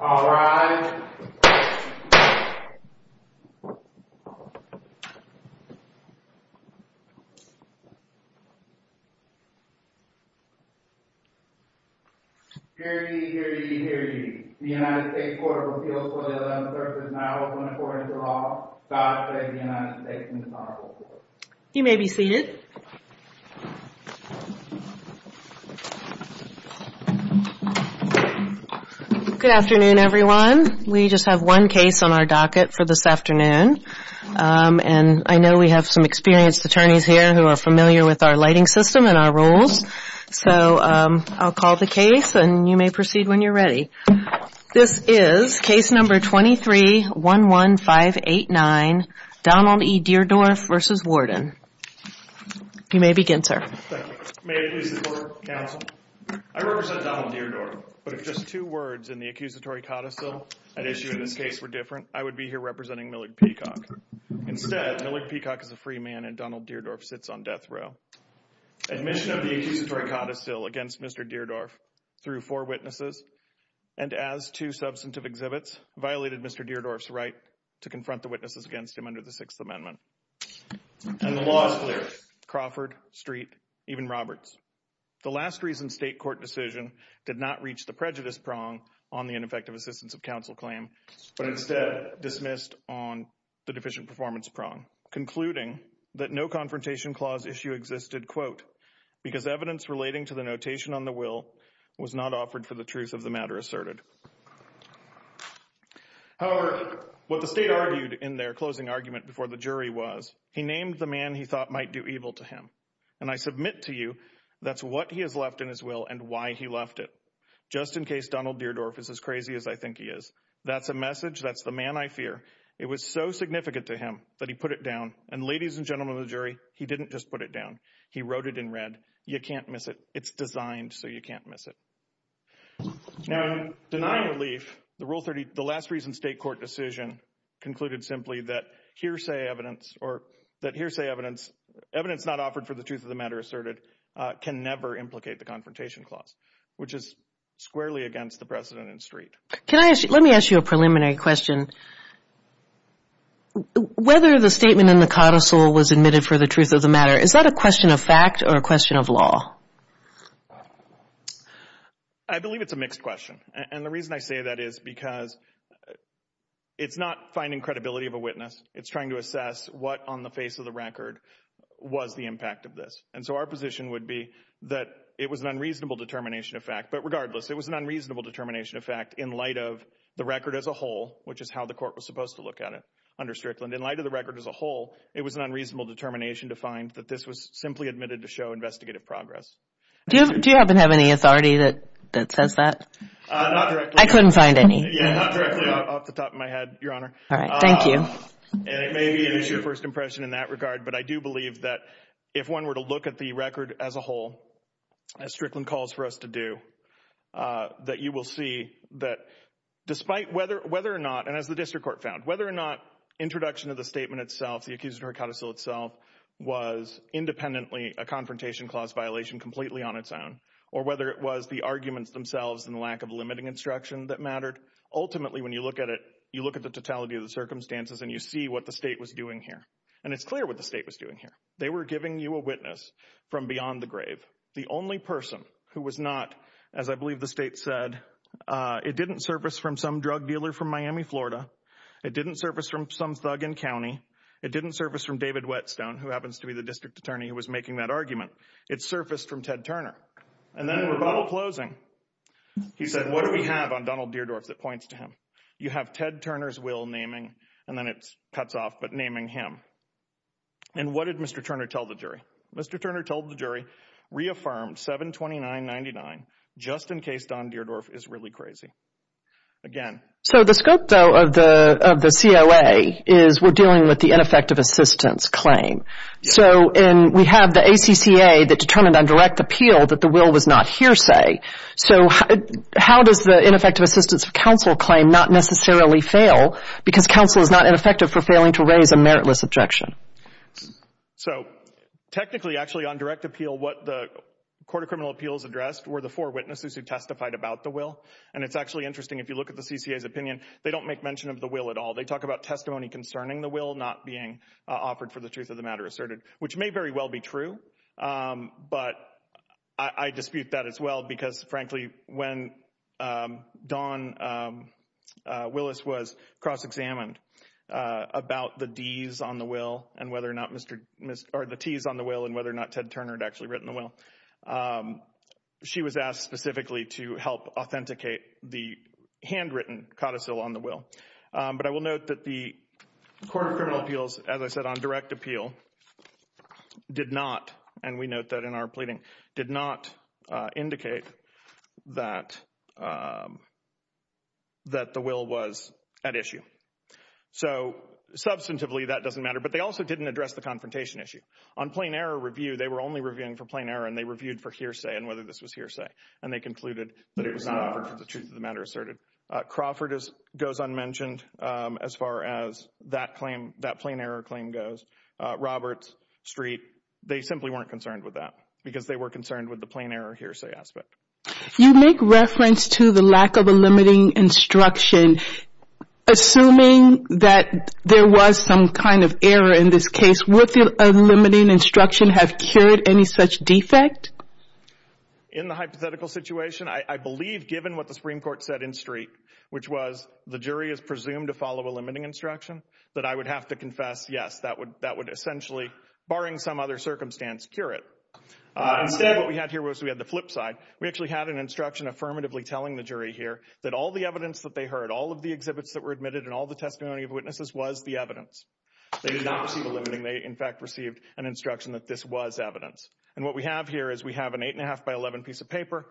All rise. Hear ye, hear ye, hear ye. The United States Court of Appeals for the 11th Circuit is now open according to law. God save the United States and His Honorable Court. You may be seated. Good afternoon, everyone. We just have one case on our docket for this afternoon. And I know we have some experienced attorneys here who are familiar with our lighting system and our rules. So I'll call the case, and you may proceed when you're ready. This is case number 23-11589, Donald E. Deardorff v. Warden. You may begin, sir. Thank you. May it please the Court of Counsel, I represent Donald Deardorff, but if just two words in the accusatory codicil at issue in this case were different, I would be here representing Millard Peacock. Instead, Millard Peacock is a free man, and Donald Deardorff sits on death row. Admission of the accusatory codicil against Mr. Deardorff through four witnesses, and as two substantive exhibits, violated Mr. Deardorff's right to confront the witnesses against him under the Sixth Amendment. And the law is clear. Crawford, Street, even Roberts. The last reason state court decision did not reach the prejudice prong on the ineffective assistance of counsel claim, but instead dismissed on the deficient performance prong, concluding that no confrontation clause issue existed, quote, because evidence relating to the notation on the will was not offered for the truth of the matter asserted. However, what the state argued in their closing argument before the jury was he named the man he thought might do evil to him. And I submit to you that's what he has left in his will and why he left it. Just in case Donald Deardorff is as crazy as I think he is. That's a message. That's the man I fear. It was so significant to him that he put it down. And ladies and gentlemen of the jury, he didn't just put it down. He wrote it in red. You can't miss it. It's designed so you can't miss it. Now, deny relief. The rule 30. The last reason state court decision concluded simply that hearsay evidence or that hearsay evidence, evidence not offered for the truth of the matter asserted can never implicate the confrontation clause, which is squarely against the precedent in street. Can I ask you let me ask you a preliminary question. Whether the statement in the carousel was admitted for the truth of the matter, is that a question of fact or a question of law? I believe it's a mixed question. And the reason I say that is because it's not finding credibility of a witness. It's trying to assess what on the face of the record was the impact of this. And so our position would be that it was an unreasonable determination of fact. But regardless, it was an unreasonable determination of fact in light of the record as a whole, which is how the court was supposed to look at it under Strickland. In light of the record as a whole, it was an unreasonable determination to find that this was simply admitted to show investigative progress. Do you happen to have any authority that says that? Not directly. I couldn't find any. Yeah, not directly off the top of my head, Your Honor. All right. Thank you. And it may be an issue of first impression in that regard. But I do believe that if one were to look at the record as a whole, as Strickland calls for us to do, that you will see that despite whether or not, and as the district court found, whether or not introduction of the statement itself, the accused in her carousel itself, was independently a confrontation clause violation completely on its own, or whether it was the arguments themselves and the lack of limiting instruction that mattered, ultimately when you look at it, you look at the totality of the circumstances and you see what the state was doing here. And it's clear what the state was doing here. They were giving you a witness from beyond the grave. The only person who was not, as I believe the state said, it didn't surface from some drug dealer from Miami, Florida. It didn't surface from some thug in county. It didn't surface from David Whetstone, who happens to be the district attorney who was making that argument. It surfaced from Ted Turner. And then in rebuttal closing, he said, what do we have on Donald Deardorff that points to him? You have Ted Turner's will naming, and then it cuts off, but naming him. And what did Mr. Turner tell the jury? Mr. Turner told the jury, reaffirm 72999, just in case Don Deardorff is really crazy. Again. So the scope, though, of the COA is we're dealing with the ineffective assistance claim. So we have the ACCA that determined on direct appeal that the will was not hearsay. So how does the ineffective assistance of counsel claim not necessarily fail because counsel is not ineffective for failing to raise a meritless objection? So technically, actually, on direct appeal, what the court of criminal appeals addressed were the four witnesses who testified about the will. And it's actually interesting. If you look at the CCA's opinion, they don't make mention of the will at all. They talk about testimony concerning the will not being offered for the truth of the matter asserted, which may very well be true. But I dispute that as well, because, frankly, when Don Willis was cross examined about the D's on the will and whether or not Mr. Or the T's on the will and whether or not Ted Turner had actually written the will. She was asked specifically to help authenticate the handwritten codicil on the will. But I will note that the court of criminal appeals, as I said, on direct appeal did not. And we note that in our pleading did not indicate that. That the will was at issue. So substantively, that doesn't matter. But they also didn't address the confrontation issue on plain error review. They were only reviewing for plain error and they reviewed for hearsay and whether this was hearsay. And they concluded that it was not offered for the truth of the matter asserted. Crawford goes unmentioned as far as that claim, that plain error claim goes. Roberts, Street, they simply weren't concerned with that because they were concerned with the plain error hearsay aspect. You make reference to the lack of a limiting instruction. Assuming that there was some kind of error in this case, would the limiting instruction have cured any such defect? In the hypothetical situation, I believe, given what the Supreme Court said in Street, which was the jury is presumed to follow a limiting instruction that I would have to confess. Yes, that would that would essentially, barring some other circumstance, cure it. Instead, what we had here was we had the flip side. We actually had an instruction affirmatively telling the jury here that all the evidence that they heard, all of the exhibits that were admitted and all the testimony of witnesses was the evidence. They did not see the limiting. They, in fact, received an instruction that this was evidence. And what we have here is we have an eight and a half by 11 piece of paper,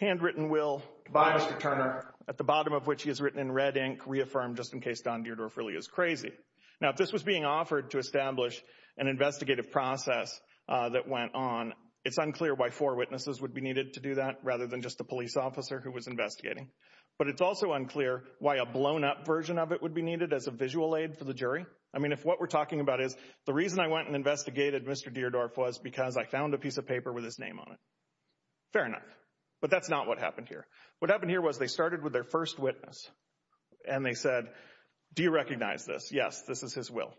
handwritten will by Mr. Turner at the bottom of which he has written in red ink reaffirmed just in case Don Deardorff really is crazy. Now, if this was being offered to establish an investigative process that went on, it's unclear why four witnesses would be needed to do that rather than just the police officer who was investigating. But it's also unclear why a blown up version of it would be needed as a visual aid for the jury. I mean, if what we're talking about is the reason I went and investigated Mr. Deardorff was because I found a piece of paper with his name on it. Fair enough. But that's not what happened here. What happened here was they started with their first witness and they said, do you recognize this? Yes, this is his will.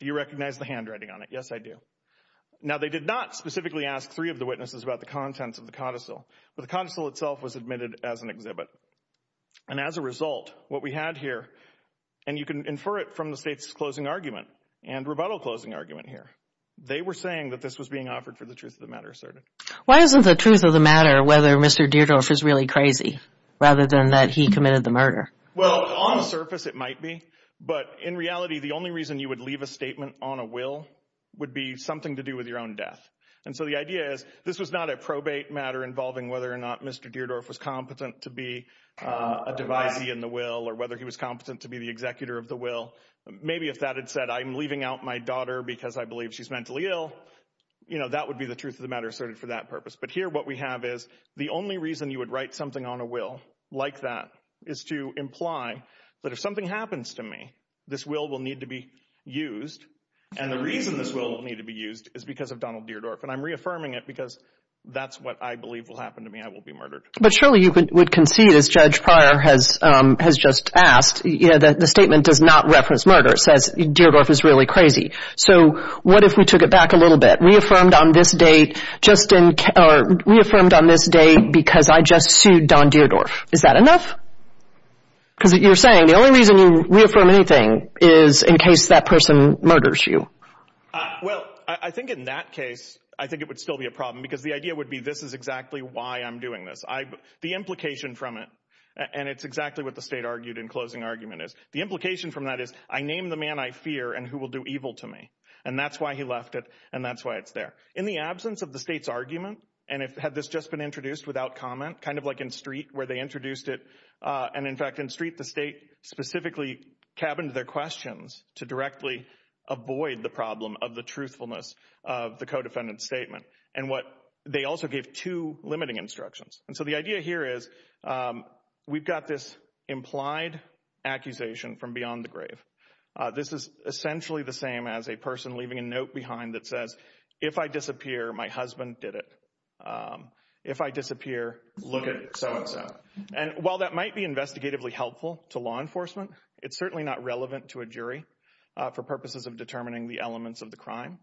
Do you recognize the handwriting on it? Yes, I do. Now, they did not specifically ask three of the witnesses about the contents of the codicil, but the console itself was admitted as an exhibit. And as a result, what we had here, and you can infer it from the state's closing argument and rebuttal closing argument here, they were saying that this was being offered for the truth of the matter asserted. Why isn't the truth of the matter whether Mr. Deardorff is really crazy rather than that he committed the murder? Well, on the surface, it might be. But in reality, the only reason you would leave a statement on a will would be something to do with your own death. And so the idea is this was not a probate matter involving whether or not Mr. Deardorff was competent to be a devisee in the will or whether he was competent to be the executor of the will. Maybe if that had said, I'm leaving out my daughter because I believe she's mentally ill. You know, that would be the truth of the matter asserted for that purpose. But here what we have is the only reason you would write something on a will like that is to imply that if something happens to me, this will will need to be used. And the reason this will need to be used is because of Donald Deardorff. And I'm reaffirming it because that's what I believe will happen to me. I will be murdered. But surely you would concede, as Judge Pryor has just asked, you know, that the statement does not reference murder. It says Deardorff is really crazy. So what if we took it back a little bit, reaffirmed on this date just in or reaffirmed on this date because I just sued Don Deardorff. Is that enough? Because you're saying the only reason you reaffirm anything is in case that person murders you. Well, I think in that case, I think it would still be a problem because the idea would be this is exactly why I'm doing this. The implication from it, and it's exactly what the state argued in closing argument, is the implication from that is I name the man I fear and who will do evil to me. And that's why he left it. And that's why it's there. In the absence of the state's argument, and had this just been introduced without comment, kind of like in Street where they introduced it. And in fact, in Street, the state specifically cabined their questions to directly avoid the problem of the truthfulness of the co-defendant statement. And what they also gave two limiting instructions. And so the idea here is we've got this implied accusation from beyond the grave. This is essentially the same as a person leaving a note behind that says, if I disappear, my husband did it. If I disappear, look at so and so. And while that might be investigatively helpful to law enforcement, it's certainly not relevant to a jury for purposes of determining the elements of the crime.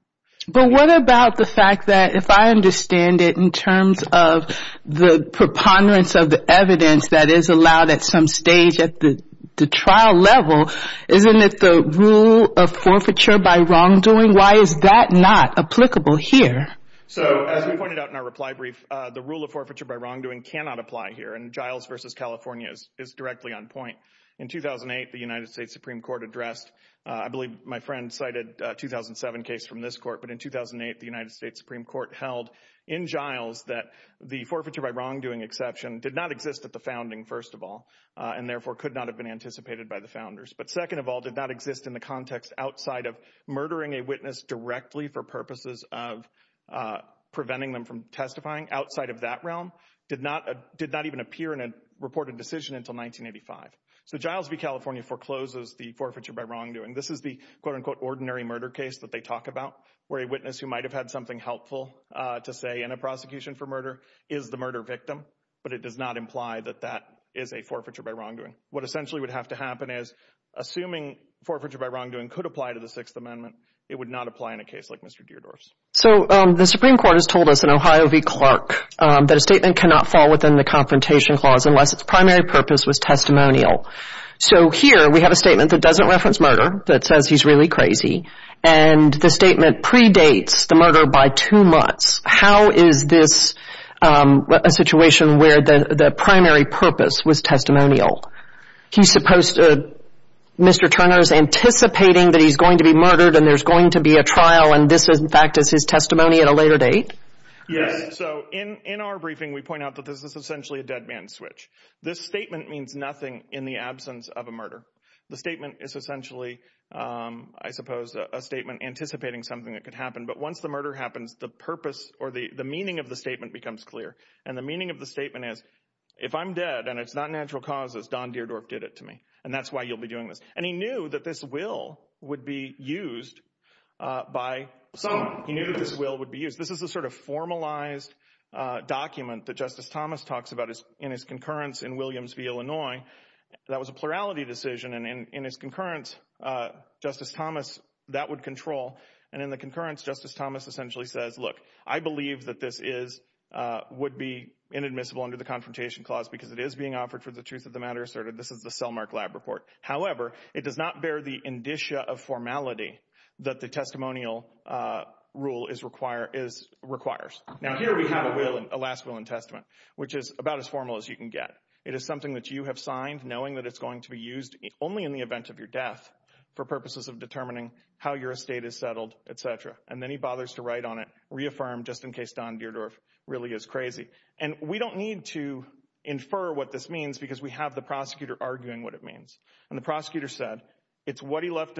But what about the fact that if I understand it in terms of the preponderance of the evidence that is allowed at some stage at the trial level, isn't it the rule of forfeiture by wrongdoing? Why is that not applicable here? So as we pointed out in our reply brief, the rule of forfeiture by wrongdoing cannot apply here. And Giles versus California is directly on point. In 2008, the United States Supreme Court addressed, I believe my friend cited a 2007 case from this court, but in 2008, the United States Supreme Court held in Giles that the forfeiture by wrongdoing exception did not exist at the founding, first of all, and therefore could not have been anticipated by the founders. But second of all, did not exist in the context outside of murdering a witness directly for purposes of preventing them from testifying outside of that realm. Did not did not even appear in a reported decision until 1985. So Giles v. California forecloses the forfeiture by wrongdoing. This is the quote unquote ordinary murder case that they talk about, where a witness who might have had something helpful to say in a prosecution for murder is the murder victim. But it does not imply that that is a forfeiture by wrongdoing. What essentially would have to happen is, assuming forfeiture by wrongdoing could apply to the Sixth Amendment, it would not apply in a case like Mr. Deardorff's. So the Supreme Court has told us in Ohio v. Clark that a statement cannot fall within the Confrontation Clause unless its primary purpose was testimonial. So here we have a statement that doesn't reference murder, that says he's really crazy. And the statement predates the murder by two months. How is this a situation where the primary purpose was testimonial? He's supposed to—Mr. Turner's anticipating that he's going to be murdered and there's going to be a trial, and this, in fact, is his testimony at a later date? Yes. So in our briefing, we point out that this is essentially a dead man's switch. This statement means nothing in the absence of a murder. The statement is essentially, I suppose, a statement anticipating something that could happen. But once the murder happens, the purpose or the meaning of the statement becomes clear. And the meaning of the statement is, if I'm dead and it's not natural causes, Don Deardorff did it to me. And that's why you'll be doing this. And he knew that this will would be used by some. He knew that this will would be used. This is a sort of formalized document that Justice Thomas talks about in his concurrence in Williams v. Illinois. That was a plurality decision, and in his concurrence, Justice Thomas, that would control. And in the concurrence, Justice Thomas essentially says, look, I believe that this is would be inadmissible under the Confrontation Clause because it is being offered for the truth of the matter asserted. This is the Selmark Lab report. However, it does not bear the indicia of formality that the testimonial rule is require is requires. Now, here we have a will, a last will and testament, which is about as formal as you can get. It is something that you have signed knowing that it's going to be used only in the event of your death for purposes of determining how your estate is settled, et cetera. And then he bothers to write on it, reaffirm just in case Don Deardorff really is crazy. And we don't need to infer what this means because we have the prosecutor arguing what it means. And the prosecutor said it's what he left.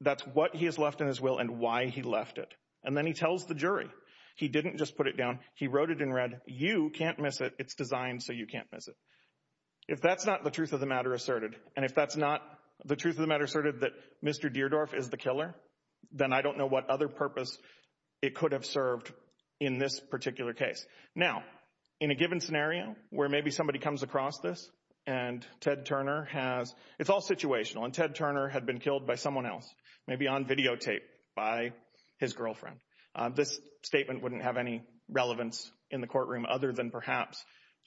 That's what he has left in his will and why he left it. And then he tells the jury he didn't just put it down. He wrote it in red. You can't miss it. It's designed so you can't miss it. If that's not the truth of the matter asserted. And if that's not the truth of the matter asserted that Mr. Deardorff is the killer, then I don't know what other purpose it could have served in this particular case. Now, in a given scenario where maybe somebody comes across this and Ted Turner has it's all situational. And Ted Turner had been killed by someone else, maybe on videotape by his girlfriend. This statement wouldn't have any relevance in the courtroom other than perhaps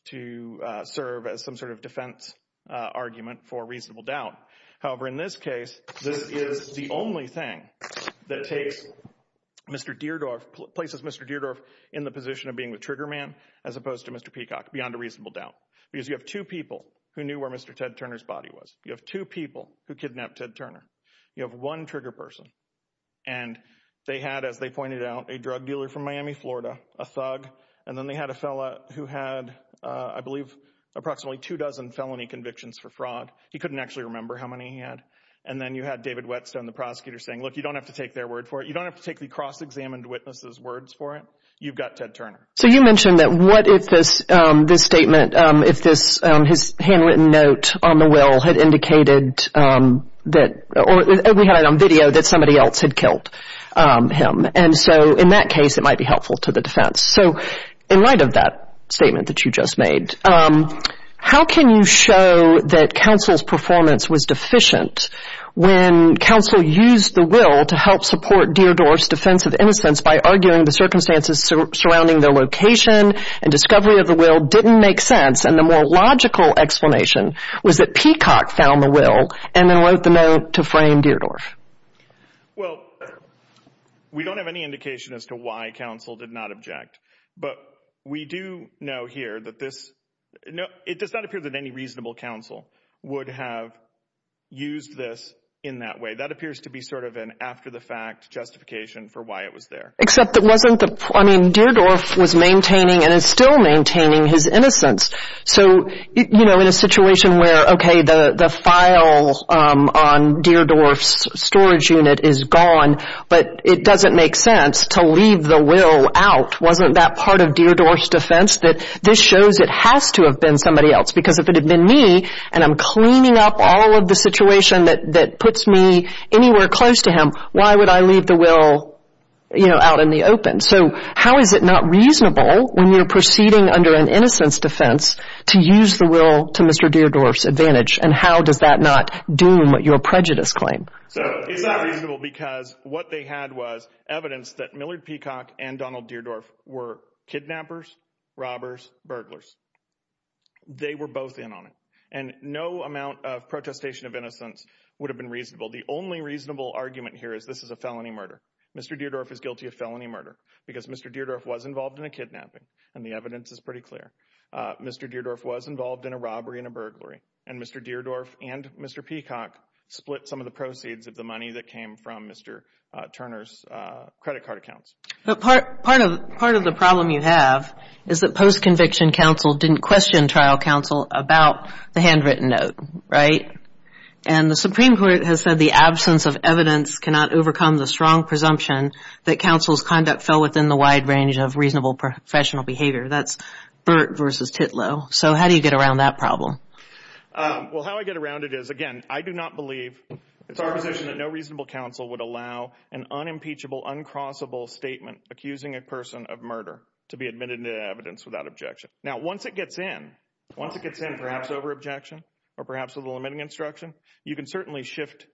to serve as some sort of defense argument for reasonable doubt. However, in this case, this is the only thing that takes Mr. Deardorff, places Mr. Deardorff in the position of being the trigger man as opposed to Mr. Peacock beyond a reasonable doubt. Because you have two people who knew where Mr. Ted Turner's body was. You have two people who kidnapped Ted Turner. You have one trigger person. And they had, as they pointed out, a drug dealer from Miami, Florida, a thug. And then they had a fellow who had, I believe, approximately two dozen felony convictions for fraud. He couldn't actually remember how many he had. And then you had David Whetstone, the prosecutor, saying, look, you don't have to take their word for it. You don't have to take the cross-examined witness's words for it. You've got Ted Turner. So you mentioned that what if this statement, if his handwritten note on the will had indicated that, or we had it on video, that somebody else had killed him. And so in that case, it might be helpful to the defense. So in light of that statement that you just made, how can you show that counsel's performance was deficient when counsel used the will to help support Deardorff's defense of innocence by arguing the circumstances surrounding their location and discovery of the will didn't make sense, and the more logical explanation was that Peacock found the will and then wrote the note to frame Deardorff? Well, we don't have any indication as to why counsel did not object. But we do know here that this – it does not appear that any reasonable counsel would have used this in that way. That appears to be sort of an after-the-fact justification for why it was there. Except it wasn't the – I mean, Deardorff was maintaining and is still maintaining his innocence. So, you know, in a situation where, okay, the file on Deardorff's storage unit is gone, but it doesn't make sense to leave the will out, wasn't that part of Deardorff's defense that this shows it has to have been somebody else? Because if it had been me and I'm cleaning up all of the situation that puts me anywhere close to him, why would I leave the will, you know, out in the open? So how is it not reasonable when you're proceeding under an innocence defense to use the will to Mr. Deardorff's advantage? And how does that not doom your prejudice claim? So it's not reasonable because what they had was evidence that Millard Peacock and Donald Deardorff were kidnappers, robbers, burglars. They were both in on it. And no amount of protestation of innocence would have been reasonable. The only reasonable argument here is this is a felony murder. Mr. Deardorff is guilty of felony murder because Mr. Deardorff was involved in a kidnapping, and the evidence is pretty clear. Mr. Deardorff was involved in a robbery and a burglary, and Mr. Deardorff and Mr. Peacock split some of the proceeds of the money that came from Mr. Turner's credit card accounts. But part of the problem you have is that post-conviction counsel didn't question trial counsel about the handwritten note, right? And the Supreme Court has said the absence of evidence cannot overcome the strong presumption that counsel's conduct fell within the wide range of reasonable professional behavior. That's Burt versus Titlow. So how do you get around that problem? Well, how I get around it is, again, I do not believe it's our position that no reasonable counsel would allow an unimpeachable, uncrossable statement accusing a person of murder to be admitted to evidence without objection. Now, once it gets in, once it gets in, perhaps over objection or perhaps with a limiting instruction, you can certainly shift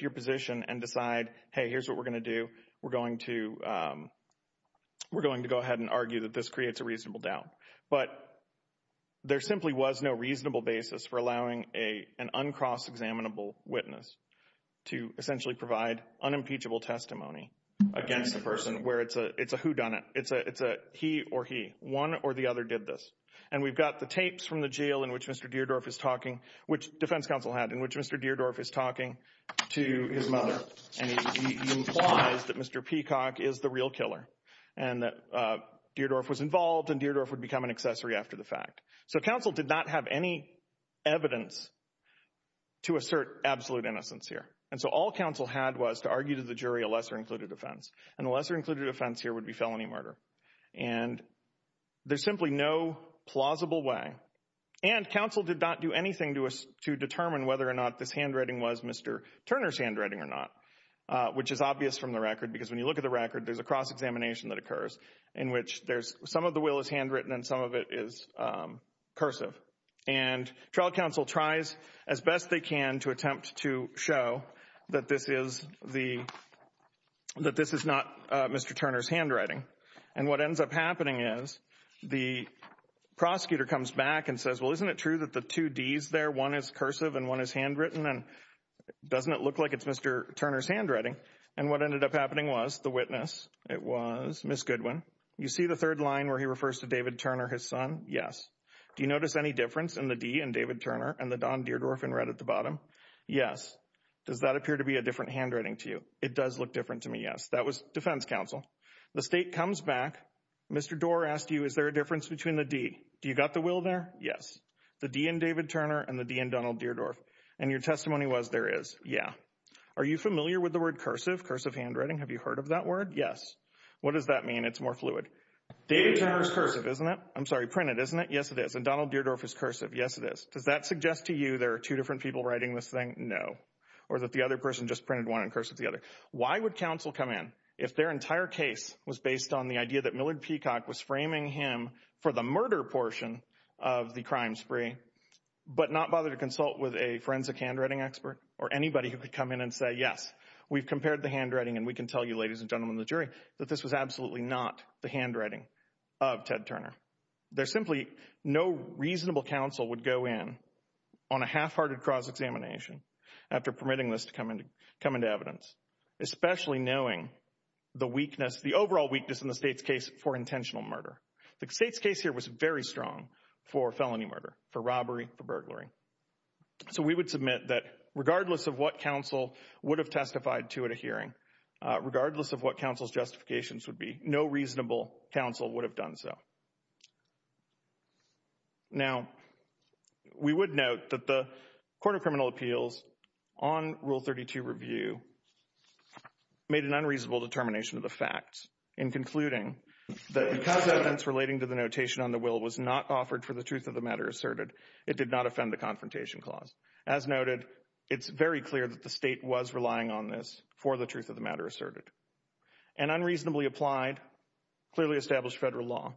your position and decide, hey, here's what we're going to do. We're going to go ahead and argue that this creates a reasonable doubt. But there simply was no reasonable basis for allowing an uncross-examinable witness to essentially provide unimpeachable testimony against a person where it's a whodunit. It's a he or he. One or the other did this. And we've got the tapes from the jail in which Mr. Deardorff is talking, which defense counsel had, in which Mr. Deardorff is talking to his mother, and he implies that Mr. Peacock is the real killer and that Deardorff was involved and Deardorff would become an accessory after the fact. So counsel did not have any evidence to assert absolute innocence here. And so all counsel had was to argue to the jury a lesser-included offense, and the lesser-included offense here would be felony murder. And there's simply no plausible way. And counsel did not do anything to determine whether or not this handwriting was Mr. Turner's handwriting or not, which is obvious from the record because when you look at the record, there's a cross-examination that occurs in which some of the will is handwritten and some of it is cursive. And trial counsel tries as best they can to attempt to show that this is not Mr. Turner's handwriting. And what ends up happening is the prosecutor comes back and says, well, isn't it true that the two Ds there, one is cursive and one is handwritten, and doesn't it look like it's Mr. Turner's handwriting? And what ended up happening was the witness, it was Ms. Goodwin. You see the third line where he refers to David Turner, his son? Yes. Do you notice any difference in the D in David Turner and the Don Deardorff in red at the bottom? Yes. Does that appear to be a different handwriting to you? It does look different to me. Yes. That was defense counsel. The state comes back. Mr. Doar asked you, is there a difference between the D? Do you got the will there? Yes. The D in David Turner and the D in Donald Deardorff. And your testimony was there is. Yeah. Are you familiar with the word cursive, cursive handwriting? Have you heard of that word? Yes. What does that mean? It's more fluid. David Turner is cursive, isn't it? I'm sorry. Printed, isn't it? Yes, it is. And Donald Deardorff is cursive. Yes, it is. Does that suggest to you there are two different people writing this thing? No. Or that the other person just printed one and cursive the other? Why would counsel come in if their entire case was based on the idea that Millard Peacock was framing him for the murder portion of the crime spree, but not bother to consult with a forensic handwriting expert or anybody who could come in and say, yes, we've compared the handwriting and we can tell you, ladies and gentlemen, the jury that this was absolutely not the handwriting of Ted Turner. There's simply no reasonable counsel would go in on a half-hearted cross examination after permitting this to come into evidence, especially knowing the weakness, the overall weakness in the state's case for intentional murder. The state's case here was very strong for felony murder, for robbery, for burglary. So we would submit that regardless of what counsel would have testified to at a hearing, regardless of what counsel's justifications would be, no reasonable counsel would have done so. Now, we would note that the Court of Criminal Appeals on Rule 32 review made an unreasonable determination of the facts in concluding that because evidence relating to the notation on the will was not offered for the truth of the matter asserted, it did not offend the confrontation clause. As noted, it's very clear that the state was relying on this for the truth of the matter asserted. An unreasonably applied, clearly established federal law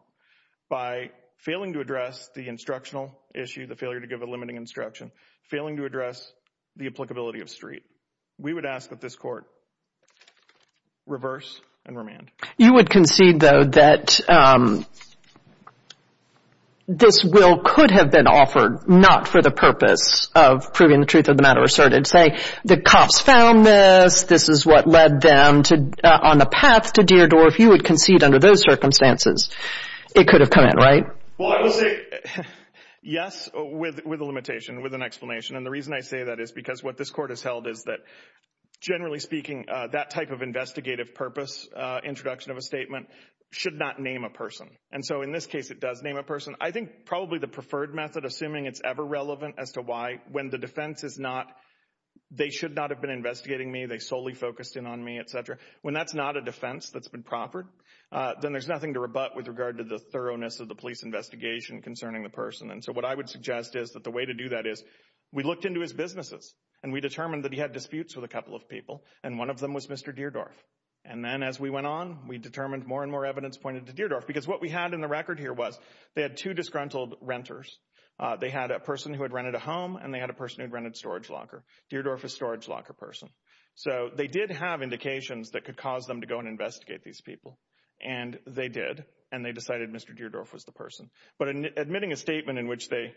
by failing to address the instructional issue, the failure to give a limiting instruction, failing to address the applicability of street. You would concede, though, that this will could have been offered not for the purpose of proving the truth of the matter asserted, say the cops found this, this is what led them on the path to Deardorff. You would concede under those circumstances it could have come in, right? Well, I will say yes with a limitation, with an explanation. And the reason I say that is because what this Court has held is that generally speaking, that type of investigative purpose introduction of a statement should not name a person. And so in this case, it does name a person. I think probably the preferred method, assuming it's ever relevant as to why, when the defense is not, they should not have been investigating me, they solely focused in on me, etc. When that's not a defense that's been proffered, then there's nothing to rebut with regard to the thoroughness of the police investigation concerning the person. And so what I would suggest is that the way to do that is we looked into his businesses and we determined that he had disputes with a couple of people, and one of them was Mr. Deardorff. And then as we went on, we determined more and more evidence pointed to Deardorff, because what we had in the record here was they had two disgruntled renters. They had a person who had rented a home, and they had a person who had rented a storage locker. Deardorff is a storage locker person. So they did have indications that could cause them to go and investigate these people. And they did, and they decided Mr. Deardorff was the person. But admitting a statement in which they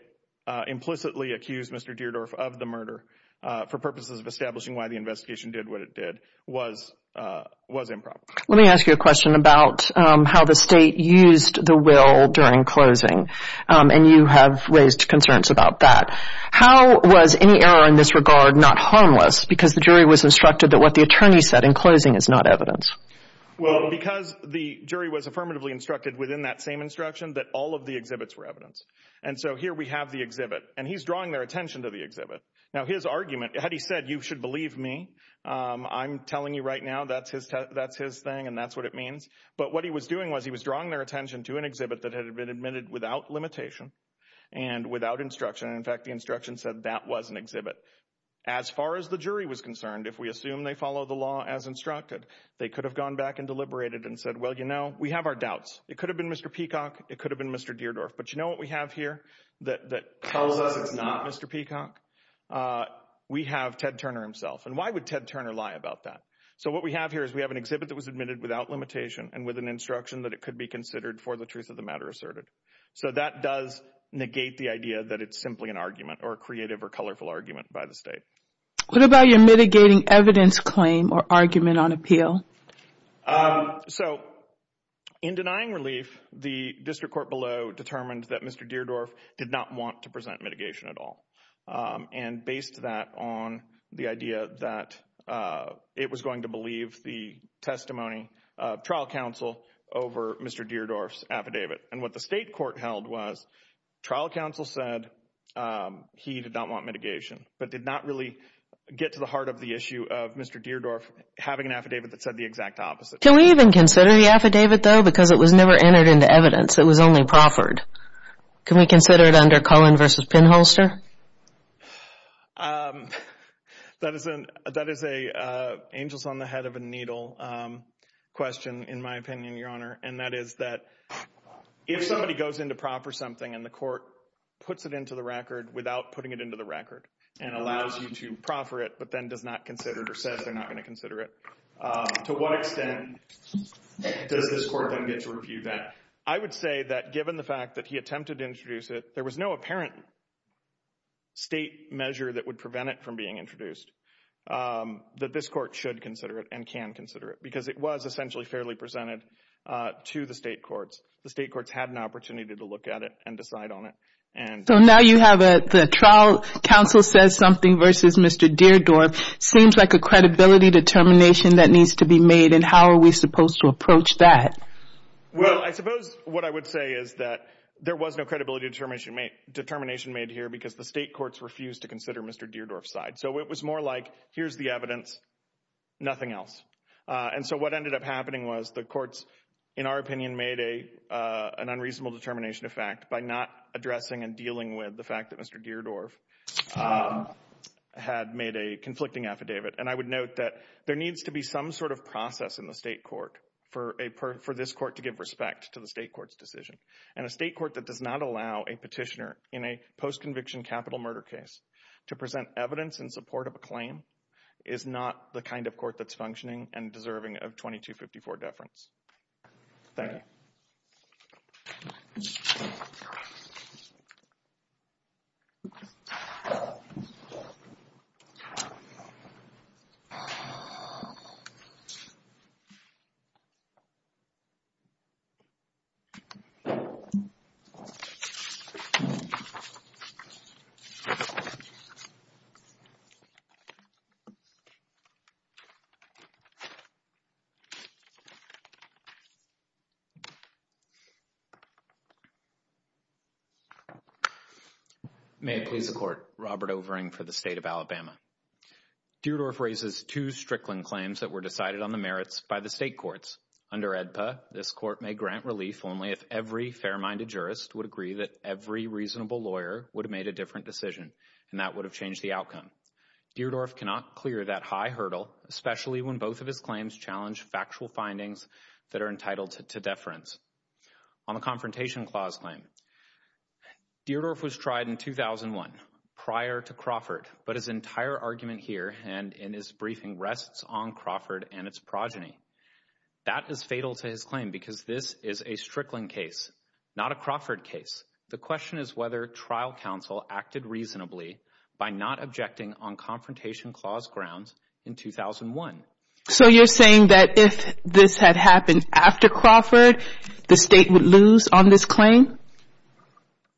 implicitly accused Mr. Deardorff of the murder for purposes of establishing why the investigation did what it did was improper. Let me ask you a question about how the state used the will during closing. And you have raised concerns about that. How was any error in this regard not harmless because the jury was instructed that what the attorney said in closing is not evidence? Well, because the jury was affirmatively instructed within that same instruction that all of the exhibits were evidence. And so here we have the exhibit, and he's drawing their attention to the exhibit. Now his argument, had he said you should believe me, I'm telling you right now that's his thing and that's what it means. But what he was doing was he was drawing their attention to an exhibit that had been admitted without limitation and without instruction, and in fact the instruction said that was an exhibit. As far as the jury was concerned, if we assume they follow the law as instructed, they could have gone back and deliberated and said, well, you know, we have our doubts. It could have been Mr. Peacock. It could have been Mr. Deardorff. But you know what we have here that tells us it's not Mr. Peacock? We have Ted Turner himself. And why would Ted Turner lie about that? So what we have here is we have an exhibit that was admitted without limitation and with an instruction that it could be considered for the truth of the matter asserted. So that does negate the idea that it's simply an argument or a creative or colorful argument by the state. What about your mitigating evidence claim or argument on appeal? So in denying relief, the district court below determined that Mr. Deardorff did not want to present mitigation at all and based that on the idea that it was going to believe the testimony of trial counsel over Mr. Deardorff's affidavit. And what the state court held was trial counsel said he did not want mitigation but did not really get to the heart of the issue of Mr. Deardorff having an affidavit that said the exact opposite. Can we even consider the affidavit, though, because it was never entered into evidence? It was only proffered. Can we consider it under Cullen v. Pinholster? That is an angels on the head of a needle question, in my opinion, Your Honor. And that is that if somebody goes into proff or something and the court puts it into the record without putting it into the record and allows you to proffer it but then does not consider it or says they're not going to consider it, to what extent does this court then get to review that? I would say that given the fact that he attempted to introduce it, there was no apparent state measure that would prevent it from being introduced that this court should consider it and can consider it because it was essentially fairly presented to the state courts. The state courts had an opportunity to look at it and decide on it. So now you have the trial counsel says something versus Mr. Deardorff. It seems like a credibility determination that needs to be made, and how are we supposed to approach that? Well, I suppose what I would say is that there was no credibility determination made here because the state courts refused to consider Mr. Deardorff's side. So it was more like here's the evidence, nothing else. And so what ended up happening was the courts, in our opinion, made an unreasonable determination of fact by not addressing and dealing with the fact that Mr. Deardorff had made a conflicting affidavit. And I would note that there needs to be some sort of process in the state court for this court to give respect to the state court's decision. And a state court that does not allow a petitioner in a post-conviction capital murder case to present evidence in support of a claim is not the kind of court that's functioning and deserving of 2254 deference. Thank you. May it please the Court. Robert Overing for the State of Alabama. Deardorff raises two Strickland claims that were decided on the merits by the state courts. Under AEDPA, this court may grant relief only if every fair-minded jurist would agree that every reasonable lawyer would have made a different decision, and that would have changed the outcome. Deardorff cannot clear that high hurdle, especially when both of his claims challenge factual findings that are entitled to deference. On the Confrontation Clause claim, Deardorff was tried in 2001, prior to Crawford, but his entire argument here and in his briefing rests on Crawford and its progeny. That is fatal to his claim because this is a Strickland case, not a Crawford case. The question is whether trial counsel acted reasonably by not objecting on Confrontation Clause grounds in 2001. So you're saying that if this had happened after Crawford, the state would lose on this claim?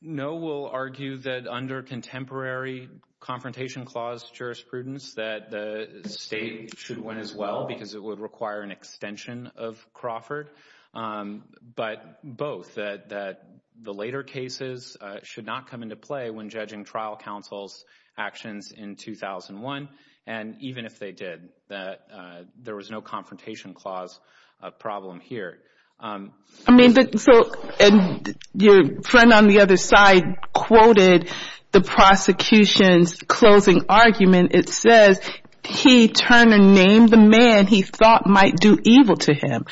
No, we'll argue that under contemporary Confrontation Clause jurisprudence, that the state should win as well because it would require an extension of Crawford. But both, that the later cases should not come into play when judging trial counsel's actions in 2001, and even if they did, that there was no Confrontation Clause problem here. I mean, so your friend on the other side quoted the prosecution's closing argument. It says, he, Turner, named the man he thought might do evil to him.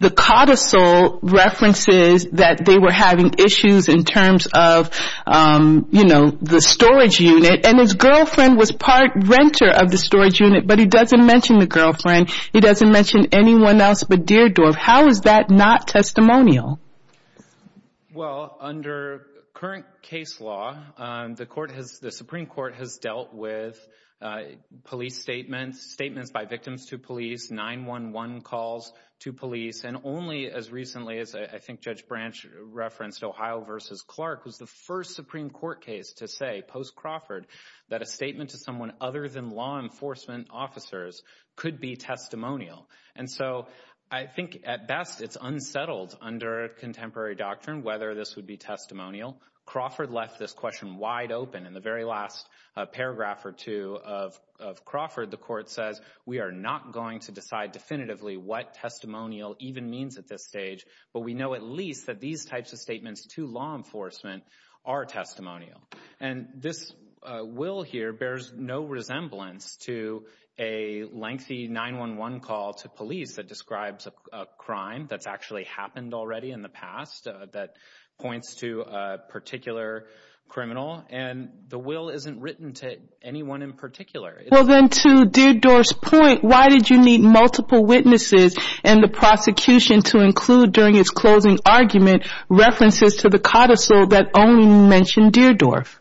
The codicil references that they were having issues in terms of, you know, the storage unit, and his girlfriend was part renter of the storage unit, but he doesn't mention the girlfriend. He doesn't mention anyone else but Deardorff. How is that not testimonial? Well, under current case law, the Supreme Court has dealt with police statements, statements by victims to police, 911 calls to police, and only as recently as I think Judge Branch referenced Ohio v. Clark, was the first Supreme Court case to say, post-Crawford, that a statement to someone other than law enforcement officers could be testimonial. And so I think at best it's unsettled under contemporary doctrine whether this would be testimonial. Crawford left this question wide open. In the very last paragraph or two of Crawford, the Court says, we are not going to decide definitively what testimonial even means at this stage, but we know at least that these types of statements to law enforcement are testimonial. And this will here bears no resemblance to a lengthy 911 call to police that describes a crime that's actually happened already in the past that points to a particular criminal, and the will isn't written to anyone in particular. Well, then to Deardorff's point, why did you need multiple witnesses in the prosecution to include during its closing argument references to the codicil that only mentioned Deardorff?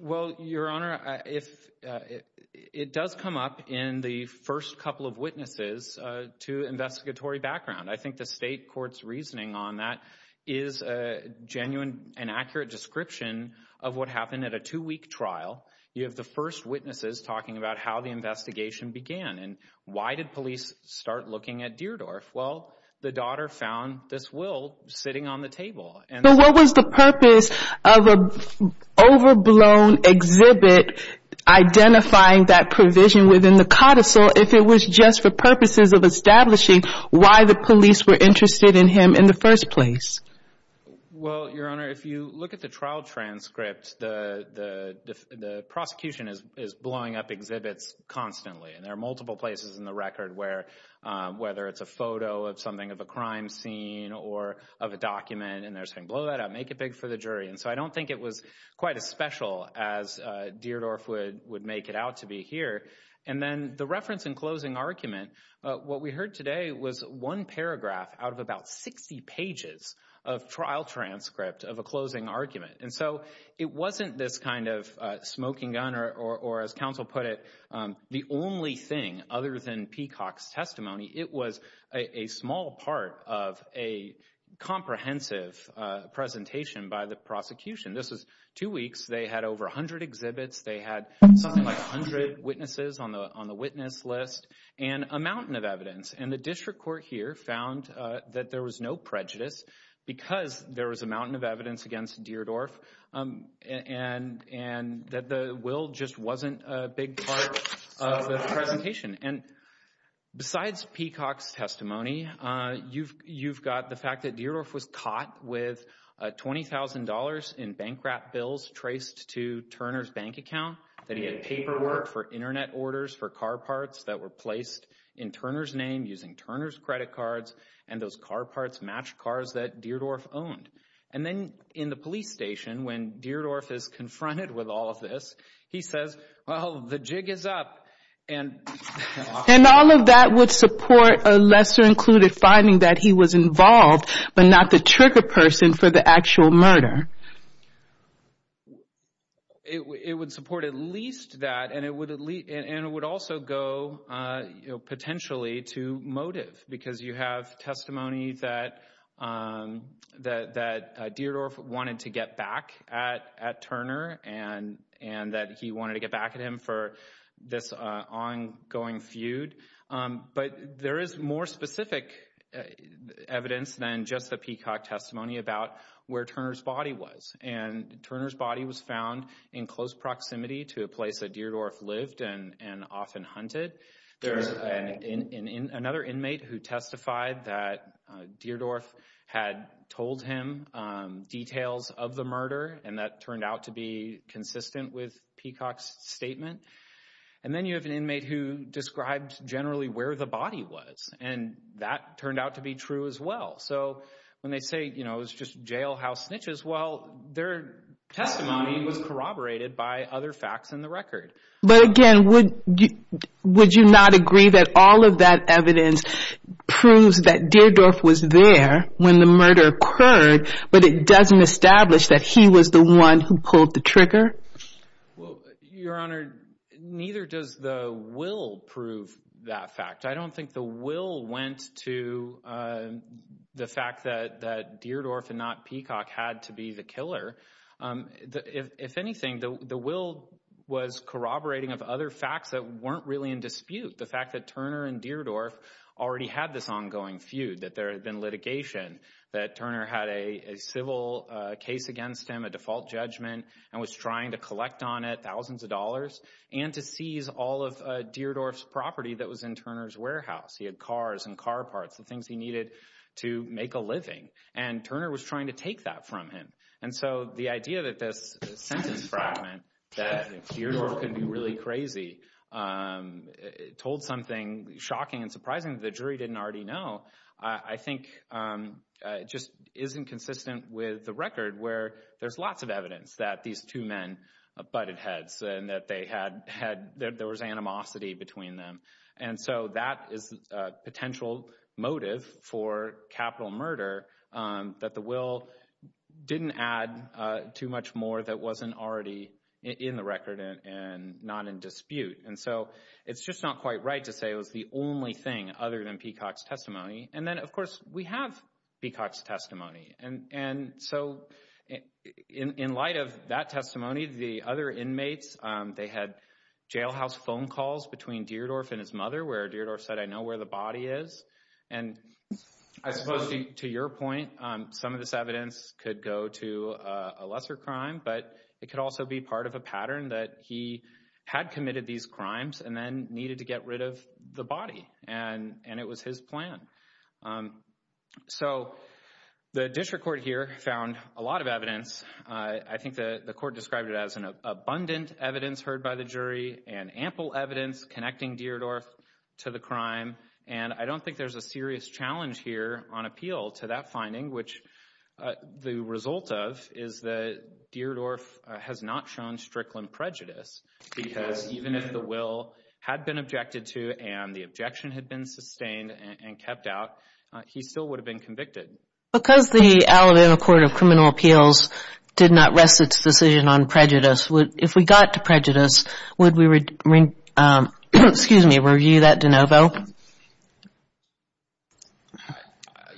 Well, Your Honor, it does come up in the first couple of witnesses to investigatory background. I think the State Court's reasoning on that is a genuine and accurate description of what happened at a two-week trial. You have the first witnesses talking about how the investigation began, and why did police start looking at Deardorff? Well, the daughter found this will sitting on the table. But what was the purpose of an overblown exhibit identifying that provision within the codicil if it was just for purposes of establishing why the police were interested in him in the first place? Well, Your Honor, if you look at the trial transcript, the prosecution is blowing up exhibits constantly, and there are multiple places in the record where, whether it's a photo of something of a crime scene or of a document, and they're saying, blow that up, make it big for the jury. And so I don't think it was quite as special as Deardorff would make it out to be here. And then the reference in closing argument, what we heard today was one paragraph out of about 60 pages of trial transcript of a closing argument. And so it wasn't this kind of smoking gun or, as counsel put it, the only thing other than Peacock's testimony. It was a small part of a comprehensive presentation by the prosecution. This was two weeks. They had over 100 exhibits. They had something like 100 witnesses on the witness list and a mountain of evidence. And the district court here found that there was no prejudice because there was a mountain of evidence against Deardorff and that the will just wasn't a big part of the presentation. And besides Peacock's testimony, you've got the fact that Deardorff was caught with $20,000 in bankrupt bills traced to Turner's bank account, that he had paperwork for Internet orders for car parts that were placed in Turner's name, using Turner's credit cards, and those car parts matched cars that Deardorff owned. And then in the police station, when Deardorff is confronted with all of this, he says, well, the jig is up. And all of that would support a lesser included finding that he was involved but not the trigger person for the actual murder. It would support at least that, and it would also go potentially to motive, because you have testimony that Deardorff wanted to get back at Turner and that he wanted to get back at him for this ongoing feud. But there is more specific evidence than just the Peacock testimony about where Turner's body was. And Turner's body was found in close proximity to a place that Deardorff lived and often hunted. There's another inmate who testified that Deardorff had told him details of the murder and that turned out to be consistent with Peacock's statement. And then you have an inmate who described generally where the body was, and that turned out to be true as well. So when they say, you know, it was just jailhouse snitches, well, their testimony was corroborated by other facts in the record. But again, would you not agree that all of that evidence proves that Deardorff was there when the murder occurred, but it doesn't establish that he was the one who pulled the trigger? Well, Your Honor, neither does the will prove that fact. I don't think the will went to the fact that Deardorff and not Peacock had to be the killer. If anything, the will was corroborating of other facts that weren't really in dispute, the fact that Turner and Deardorff already had this ongoing feud, that there had been litigation, that Turner had a civil case against him, a default judgment, and was trying to collect on it thousands of dollars, and to seize all of Deardorff's property that was in Turner's warehouse. He had cars and car parts, the things he needed to make a living. And Turner was trying to take that from him. And so the idea that this sentence fragment that Deardorff could be really crazy told something shocking and surprising that the jury didn't already know, I think just isn't consistent with the record where there's lots of evidence that these two men butted heads and that there was animosity between them. And so that is a potential motive for capital murder, that the will didn't add too much more that wasn't already in the record and not in dispute. And so it's just not quite right to say it was the only thing other than Peacock's testimony. And then, of course, we have Peacock's testimony. And so in light of that testimony, the other inmates, they had jailhouse phone calls between Deardorff and his mother where Deardorff said, I know where the body is. And I suppose to your point, some of this evidence could go to a lesser crime, but it could also be part of a pattern that he had committed these crimes and then needed to get rid of the body. And and it was his plan. So the district court here found a lot of evidence. I think the court described it as an abundant evidence heard by the jury and ample evidence connecting Deardorff to the crime. And I don't think there's a serious challenge here on appeal to that finding, which the result of is that Deardorff has not shown strickland prejudice, because even if the will had been objected to and the objection had been sustained and kept out, he still would have been convicted. Because the Alabama Court of Criminal Appeals did not rest its decision on prejudice, if we got to prejudice, would we review that de novo?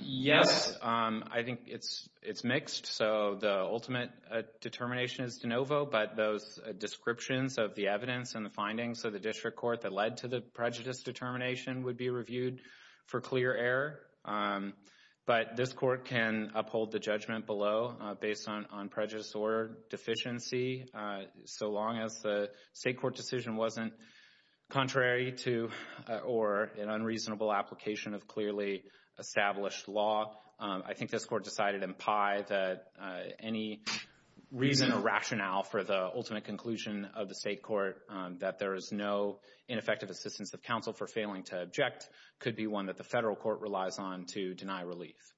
Yes, I think it's it's mixed. So the ultimate determination is de novo. But those descriptions of the evidence and the findings of the district court that led to the prejudice determination would be reviewed for clear error. But this court can uphold the judgment below based on on prejudice or deficiency. So long as the state court decision wasn't contrary to or an unreasonable application of clearly established law. I think this court decided in pie that any reason or rationale for the ultimate conclusion of the state court that there is no ineffective assistance of counsel for failing to object could be one that the federal court relies on to deny relief.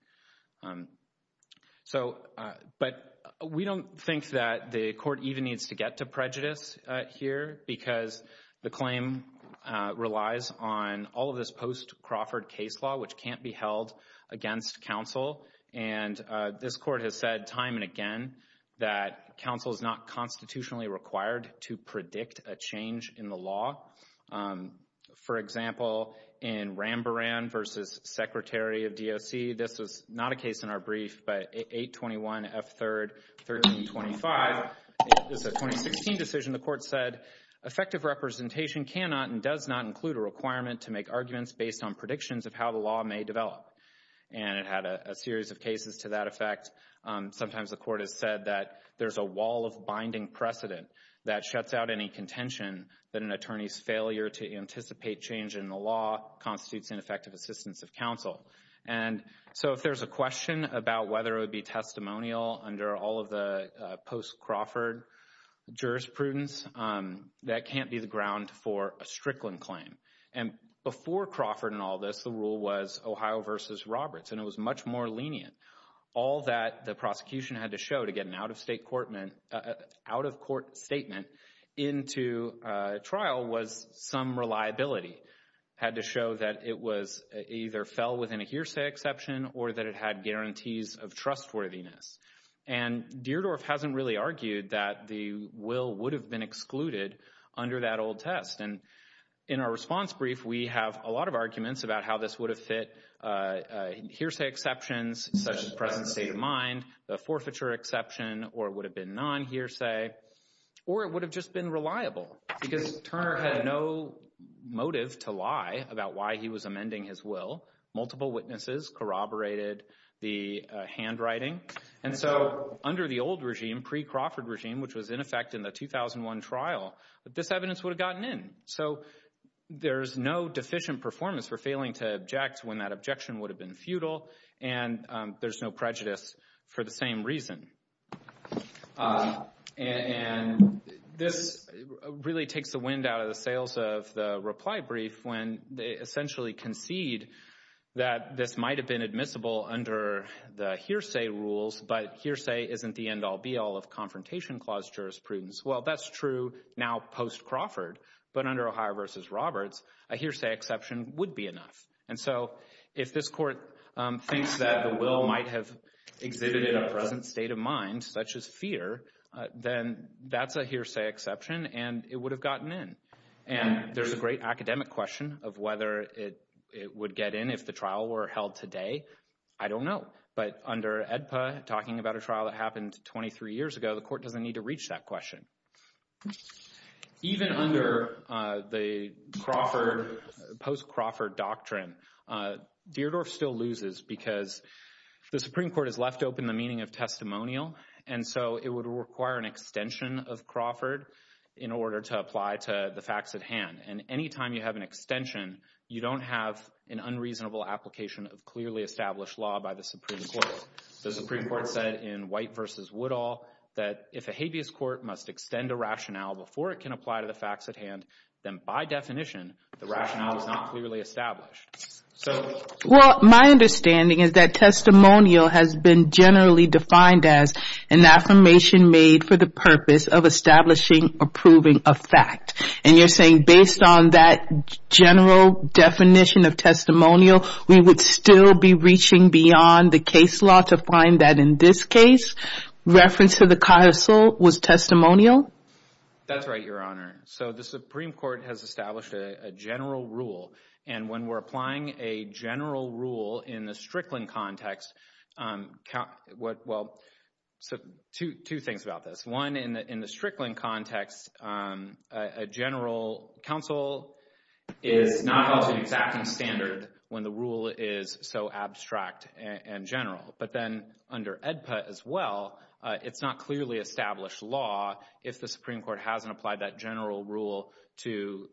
So but we don't think that the court even needs to get to prejudice here because the claim relies on all of this post Crawford case law, which can't be held against counsel. And this court has said time and again that counsel is not constitutionally required to predict a change in the law. For example, in Ramboran versus secretary of D.O.C. This is not a case in our brief, but 821 F. Third, 1325 is a 2016 decision. The court said effective representation cannot and does not include a requirement to make arguments based on predictions of how the law may develop. And it had a series of cases to that effect. Sometimes the court has said that there's a wall of binding precedent that shuts out any contention that an attorney's failure to anticipate change in the law constitutes ineffective assistance of counsel. And so if there's a question about whether it would be testimonial under all of the post Crawford jurisprudence, that can't be the ground for a Strickland claim. And before Crawford and all this, the rule was Ohio versus Roberts, and it was much more lenient. All that the prosecution had to show to get an out of state courtmen out of court statement into trial was some reliability had to show that it was either fell within a hearsay exception or that it had guarantees of trustworthiness. And Deardorff hasn't really argued that the will would have been excluded under that old test. And in our response brief, we have a lot of arguments about how this would have fit hearsay exceptions such as present state of mind, the forfeiture exception, or it would have been non hearsay or it would have just been reliable because Turner had no motive to lie about why he was amending his will. Multiple witnesses corroborated the handwriting. And so under the old regime, pre-Crawford regime, which was in effect in the 2001 trial, this evidence would have gotten in. So there's no deficient performance for failing to object when that objection would have been futile, and there's no prejudice for the same reason. And this really takes the wind out of the sails of the reply brief when they essentially concede that this might have been admissible under the hearsay rules, but hearsay isn't the end all be all of confrontation clause jurisprudence. Well, that's true now post-Crawford, but under Ohio v. Roberts, a hearsay exception would be enough. And so if this court thinks that the will might have exhibited a present state of mind, such as fear, then that's a hearsay exception and it would have gotten in. And there's a great academic question of whether it would get in if the trial were held today. I don't know. But under ADPA, talking about a trial that happened 23 years ago, the court doesn't need to reach that question. Even under the post-Crawford doctrine, Deardorff still loses because the Supreme Court has left open the meaning of testimonial. And so it would require an extension of Crawford in order to apply to the facts at hand. And any time you have an extension, you don't have an unreasonable application of clearly established law by the Supreme Court. The Supreme Court said in White v. Woodall that if a habeas court must extend a rationale before it can apply to the facts at hand, then by definition, the rationale is not clearly established. Well, my understanding is that testimonial has been generally defined as an affirmation made for the purpose of establishing or proving a fact. And you're saying based on that general definition of testimonial, we would still be reaching beyond the case law to find that in this case, reference to the carousel was testimonial? That's right, Your Honor. So the Supreme Court has established a general rule. And when we're applying a general rule in the Strickland context—well, two things about this. One, in the Strickland context, a general counsel is not held to an exacting standard when the rule is so abstract and general. But then under AEDPA as well, it's not clearly established law if the Supreme Court hasn't applied that general rule to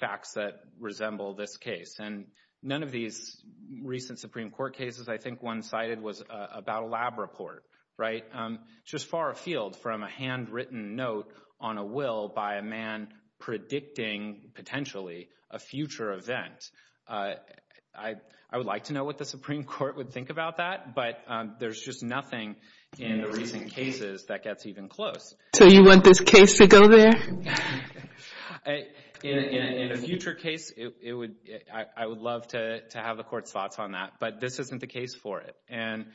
facts that resemble this case. And none of these recent Supreme Court cases I think one cited was about a lab report, right, just far afield from a handwritten note on a will by a man predicting potentially a future event. I would like to know what the Supreme Court would think about that, but there's just nothing in the recent cases that gets even close. So you want this case to go there? In a future case, I would love to have the Court's thoughts on that, but this isn't the case for it. And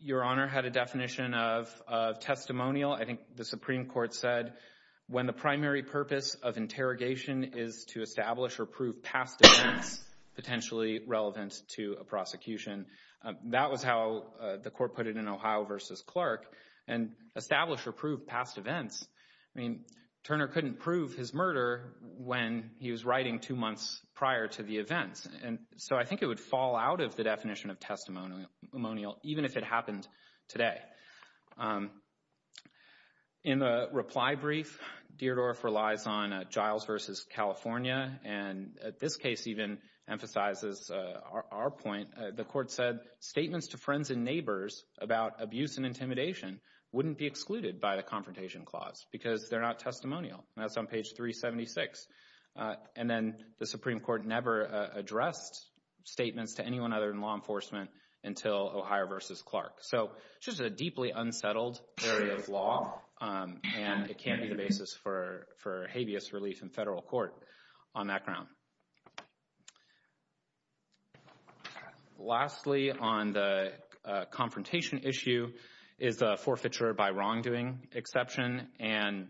Your Honor had a definition of testimonial. I think the Supreme Court said when the primary purpose of interrogation is to establish or prove past events potentially relevant to a prosecution. That was how the Court put it in Ohio v. Clark. And establish or prove past events—I mean, Turner couldn't prove his murder when he was writing two months prior to the events. And so I think it would fall out of the definition of testimonial, even if it happened today. In the reply brief, Deardorff relies on Giles v. California, and this case even emphasizes our point. The Court said statements to friends and neighbors about abuse and intimidation wouldn't be excluded by the Confrontation Clause because they're not testimonial. That's on page 376. And then the Supreme Court never addressed statements to anyone other than law enforcement until Ohio v. Clark. So it's just a deeply unsettled area of law, and it can't be the basis for habeas relief in federal court on that ground. Lastly, on the confrontation issue, is the forfeiture by wrongdoing exception. And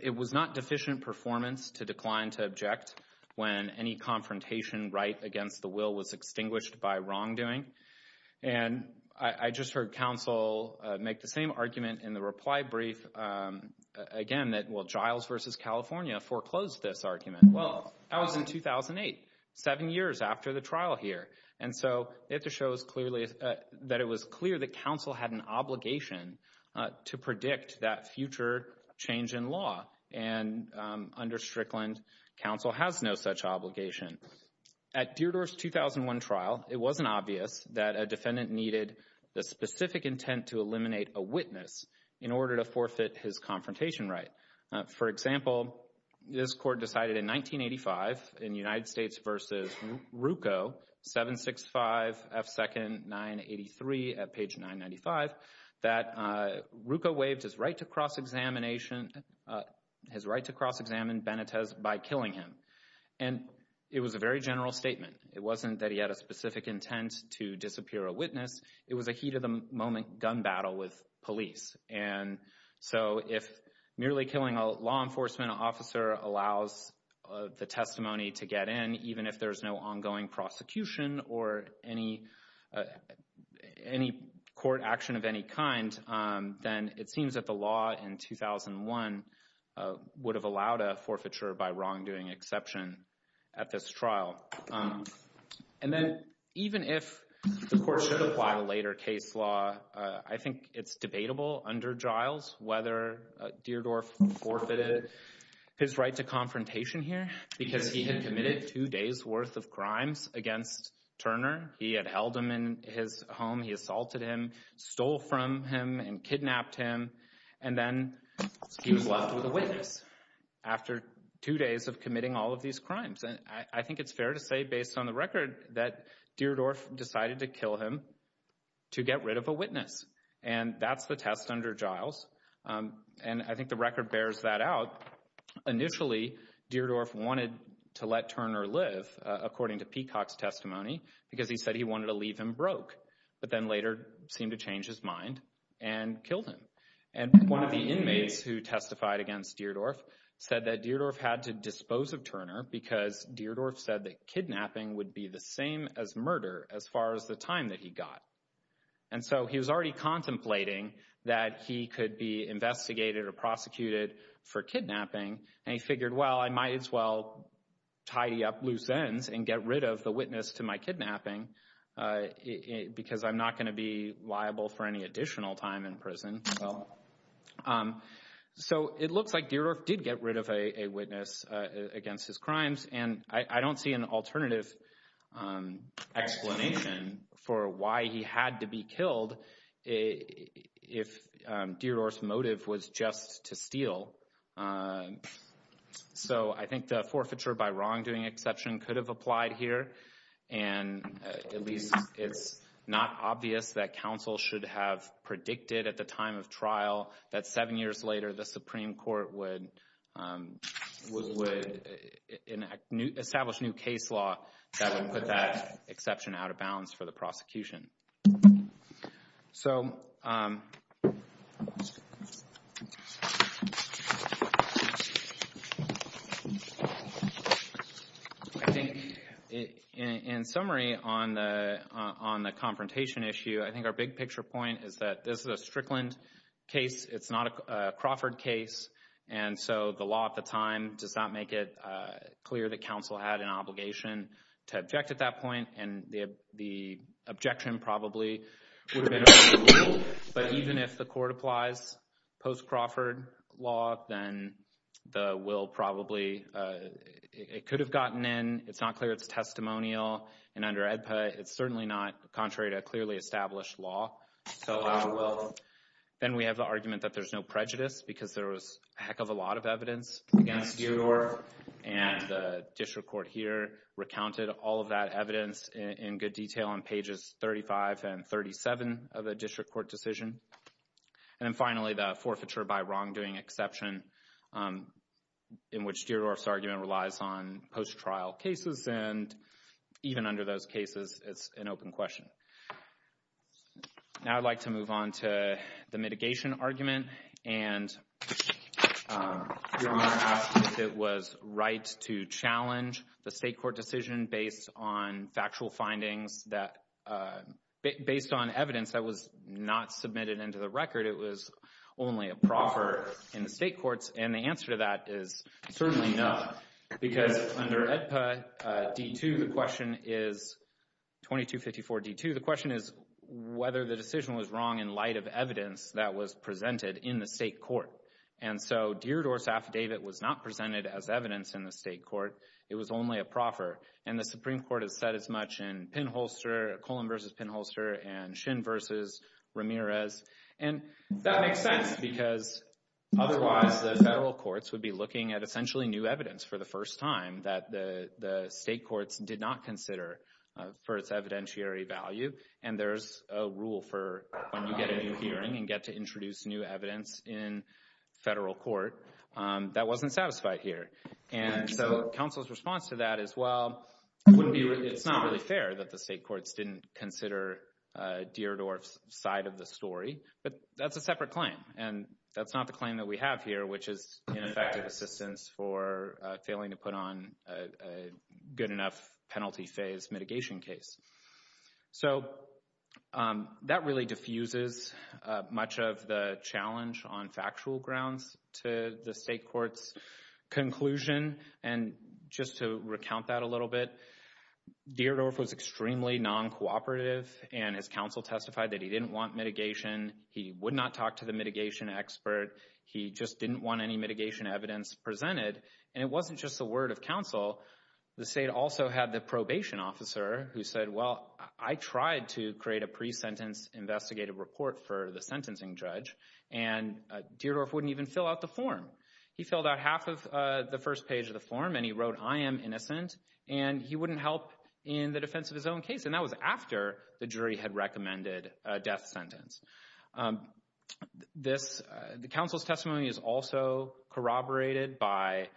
it was not deficient performance to decline to object when any confrontation right against the will was extinguished by wrongdoing. And I just heard counsel make the same argument in the reply brief again that, well, Giles v. California foreclosed this argument. Well, that was in 2008, seven years after the trial here. And so it just shows clearly that it was clear that counsel had an obligation to predict that future change in law. And under Strickland, counsel has no such obligation. At Deardorff's 2001 trial, it wasn't obvious that a defendant needed the specific intent to eliminate a witness in order to forfeit his confrontation right. For example, this court decided in 1985 in United States v. Rucco, 765 F. Second 983 at page 995, that Rucco waived his right to cross-examination, his right to cross-examine Benitez by killing him. And it was a very general statement. It wasn't that he had a specific intent to disappear a witness. It was a heat of the moment gun battle with police. And so if merely killing a law enforcement officer allows the testimony to get in, even if there's no ongoing prosecution or any court action of any kind, then it seems that the law in 2001 would have allowed a forfeiture by wrongdoing exception at this trial. And then even if the court should apply a later case law, I think it's debatable under Giles whether Deardorff forfeited his right to confrontation here because he had committed two days worth of crimes against Turner. He had held him in his home. He assaulted him, stole from him, and kidnapped him. And then he was left with a witness after two days of committing all of these crimes. And I think it's fair to say, based on the record, that Deardorff decided to kill him to get rid of a witness. And that's the test under Giles. And I think the record bears that out. Initially, Deardorff wanted to let Turner live, according to Peacock's testimony, because he said he wanted to leave him broke, but then later seemed to change his mind and killed him. And one of the inmates who testified against Deardorff said that Deardorff had to dispose of Turner because Deardorff said that kidnapping would be the same as murder as far as the time that he got. And so he was already contemplating that he could be investigated or prosecuted for kidnapping. And he figured, well, I might as well tidy up loose ends and get rid of the witness to my kidnapping because I'm not going to be liable for any additional time in prison. So it looks like Deardorff did get rid of a witness against his crimes, and I don't see an alternative explanation for why he had to be killed if Deardorff's motive was just to steal. So I think the forfeiture by wrongdoing exception could have applied here. And at least it's not obvious that counsel should have predicted at the time of trial that seven years later the Supreme Court would establish new case law that would put that exception out of bounds for the prosecution. So in summary on the confrontation issue, I think our big picture point is that this is a Strickland case. It's not a Crawford case. And so the law at the time does not make it clear that counsel had an obligation to object at that point. And the objection probably would have been removed. But even if the court applies post-Crawford law, then the will probably – it could have gotten in. It's not clear it's testimonial. And under AEDPA, it's certainly not contrary to clearly established law. Then we have the argument that there's no prejudice because there was a heck of a lot of evidence against Deardorff. And the district court here recounted all of that evidence in good detail on pages 35 and 37 of the district court decision. And then finally the forfeiture by wrongdoing exception in which Deardorff's argument relies on post-trial cases. And even under those cases, it's an open question. Now I'd like to move on to the mitigation argument. And Your Honor asked if it was right to challenge the state court decision based on factual findings that – based on evidence that was not submitted into the record. It was only a proffer in the state courts. And the answer to that is certainly no because under AEDPA D2, the question is – 2254 D2. The question is whether the decision was wrong in light of evidence that was presented in the state court. And so Deardorff's affidavit was not presented as evidence in the state court. It was only a proffer. And the Supreme Court has said as much in Pinholster – Cullen v. Pinholster and Shin v. Ramirez. And that makes sense because otherwise the federal courts would be looking at essentially new evidence for the first time that the state courts did not consider for its evidentiary value. And there's a rule for when you get a new hearing and get to introduce new evidence in federal court, that wasn't satisfied here. And so counsel's response to that is, well, it's not really fair that the state courts didn't consider Deardorff's side of the story. But that's a separate claim, and that's not the claim that we have here, which is ineffective assistance for failing to put on a good enough penalty phase mitigation case. So that really diffuses much of the challenge on factual grounds to the state court's conclusion. And just to recount that a little bit, Deardorff was extremely non-cooperative, and his counsel testified that he didn't want mitigation. He would not talk to the mitigation expert. He just didn't want any mitigation evidence presented. And it wasn't just the word of counsel. The state also had the probation officer who said, well, I tried to create a pre-sentence investigative report for the sentencing judge, and Deardorff wouldn't even fill out the form. He filled out half of the first page of the form, and he wrote, I am innocent, and he wouldn't help in the defense of his own case. And that was after the jury had recommended a death sentence. The counsel's testimony is also corroborated by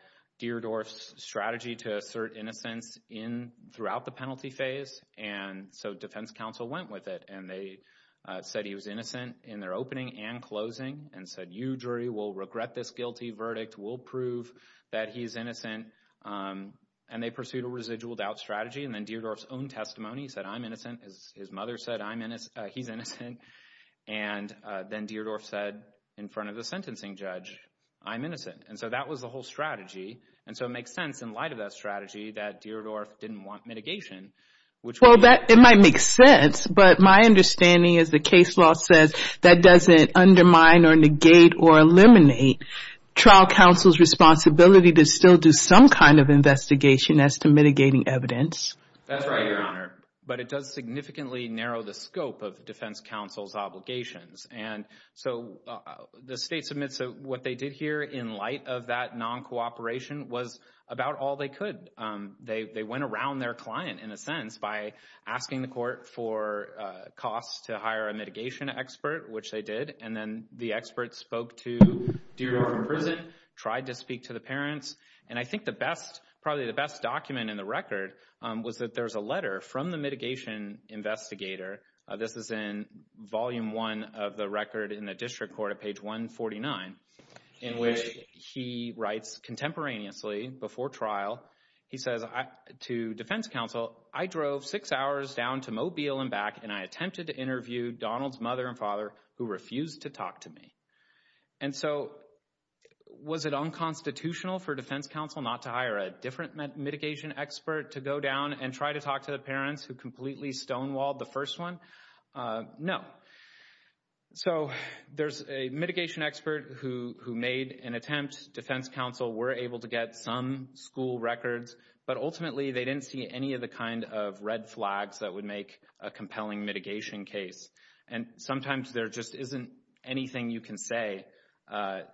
Deardorff's strategy to assert innocence throughout the penalty phase. And so defense counsel went with it, and they said he was innocent in their opening and closing and said, you, jury, will regret this guilty verdict. We'll prove that he's innocent. And they pursued a residual doubt strategy. And then Deardorff's own testimony said, I'm innocent. His mother said, he's innocent. And then Deardorff said in front of the sentencing judge, I'm innocent. And so that was the whole strategy. And so it makes sense in light of that strategy that Deardorff didn't want mitigation. Well, it might make sense, but my understanding is the case law says that doesn't undermine or negate or eliminate trial counsel's responsibility to still do some kind of investigation as to mitigating evidence. That's right, Your Honor. But it does significantly narrow the scope of defense counsel's obligations. And so the state submits what they did here in light of that non-cooperation was about all they could. They went around their client, in a sense, by asking the court for costs to hire a mitigation expert, which they did. And then the expert spoke to Deardorff in prison, tried to speak to the parents. And I think the best, probably the best document in the record was that there's a letter from the mitigation investigator. This is in volume one of the record in the district court at page 149, in which he writes contemporaneously before trial. He says to defense counsel, I drove six hours down to Mobile and back, and I attempted to interview Donald's mother and father, who refused to talk to me. And so was it unconstitutional for defense counsel not to hire a different mitigation expert to go down and try to talk to the parents who completely stonewalled the first one? No. So there's a mitigation expert who made an attempt. Defense counsel were able to get some school records. But ultimately, they didn't see any of the kind of red flags that would make a compelling mitigation case. And sometimes there just isn't anything you can say about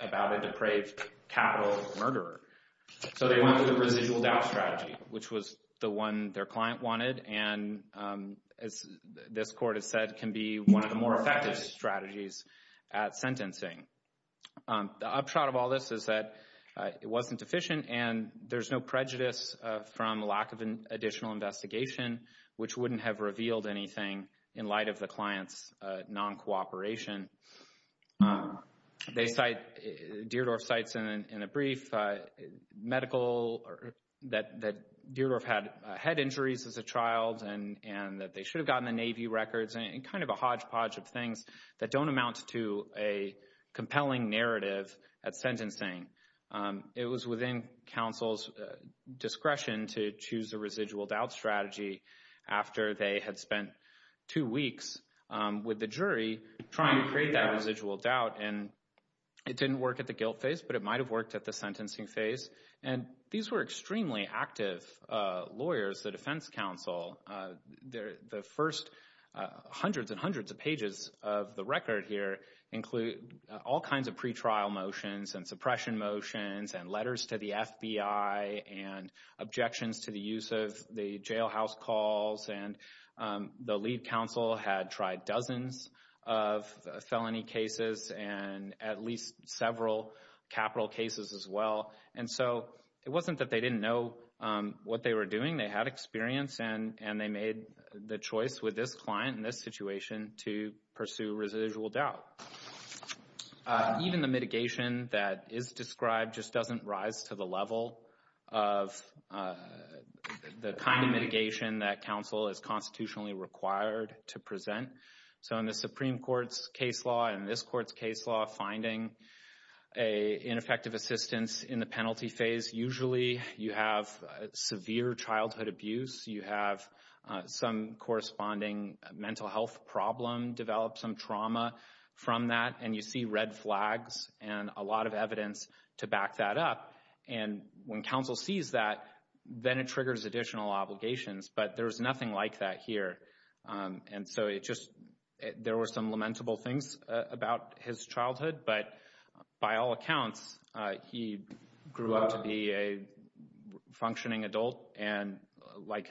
a depraved capital murderer. So they went with a residual doubt strategy, which was the one their client wanted and, as this court has said, can be one of the more effective strategies at sentencing. The upshot of all this is that it wasn't efficient, and there's no prejudice from lack of an additional investigation, which wouldn't have revealed anything in light of the client's non-cooperation. They cite—Dierdorf cites in a brief medical—that Dierdorf had head injuries as a child and that they should have gotten the Navy records and kind of a hodgepodge of things that don't amount to a compelling narrative at sentencing. It was within counsel's discretion to choose a residual doubt strategy after they had spent two weeks with the jury trying to create that residual doubt. And it didn't work at the guilt phase, but it might have worked at the sentencing phase. And these were extremely active lawyers, the defense counsel. The first hundreds and hundreds of pages of the record here include all kinds of pretrial motions and suppression motions and letters to the FBI and objections to the use of the jailhouse calls. And the lead counsel had tried dozens of felony cases and at least several capital cases as well. And so it wasn't that they didn't know what they were doing. They had experience, and they made the choice with this client in this situation to pursue residual doubt. Even the mitigation that is described just doesn't rise to the level of the kind of mitigation that counsel is constitutionally required to present. So in the Supreme Court's case law and this court's case law, finding ineffective assistance in the penalty phase, usually you have severe childhood abuse. You have some corresponding mental health problem, develop some trauma from that, and you see red flags and a lot of evidence to back that up. And when counsel sees that, then it triggers additional obligations. But there's nothing like that here. And so it just there were some lamentable things about his childhood. But by all accounts, he grew up to be a functioning adult. And like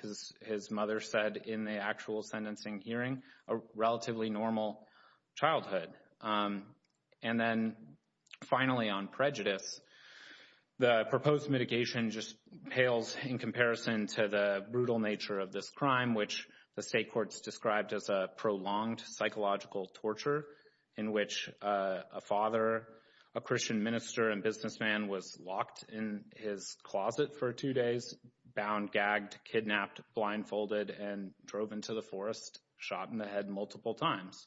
his mother said in the actual sentencing hearing, a relatively normal childhood. And then finally on prejudice, the proposed mitigation just pales in comparison to the brutal nature of this crime, which the state courts described as a prolonged psychological torture in which a father, a Christian minister and businessman was locked in his closet for two days, bound, gagged, kidnapped, blindfolded, and drove into the forest, shot in the head multiple times.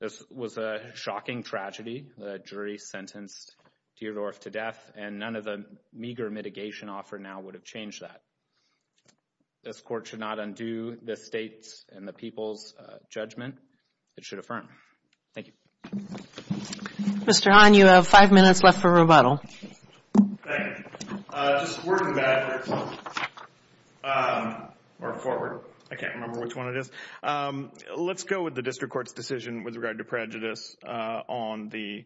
This was a shocking tragedy. The jury sentenced Deardorff to death, and none of the meager mitigation offered now would have changed that. This court should not undo the state's and the people's judgment. It should affirm. Thank you. Mr. Hahn, you have five minutes left for rebuttal. Thank you. Just a word in the back, or forward. I can't remember which one it is. Let's go with the district court's decision with regard to prejudice on the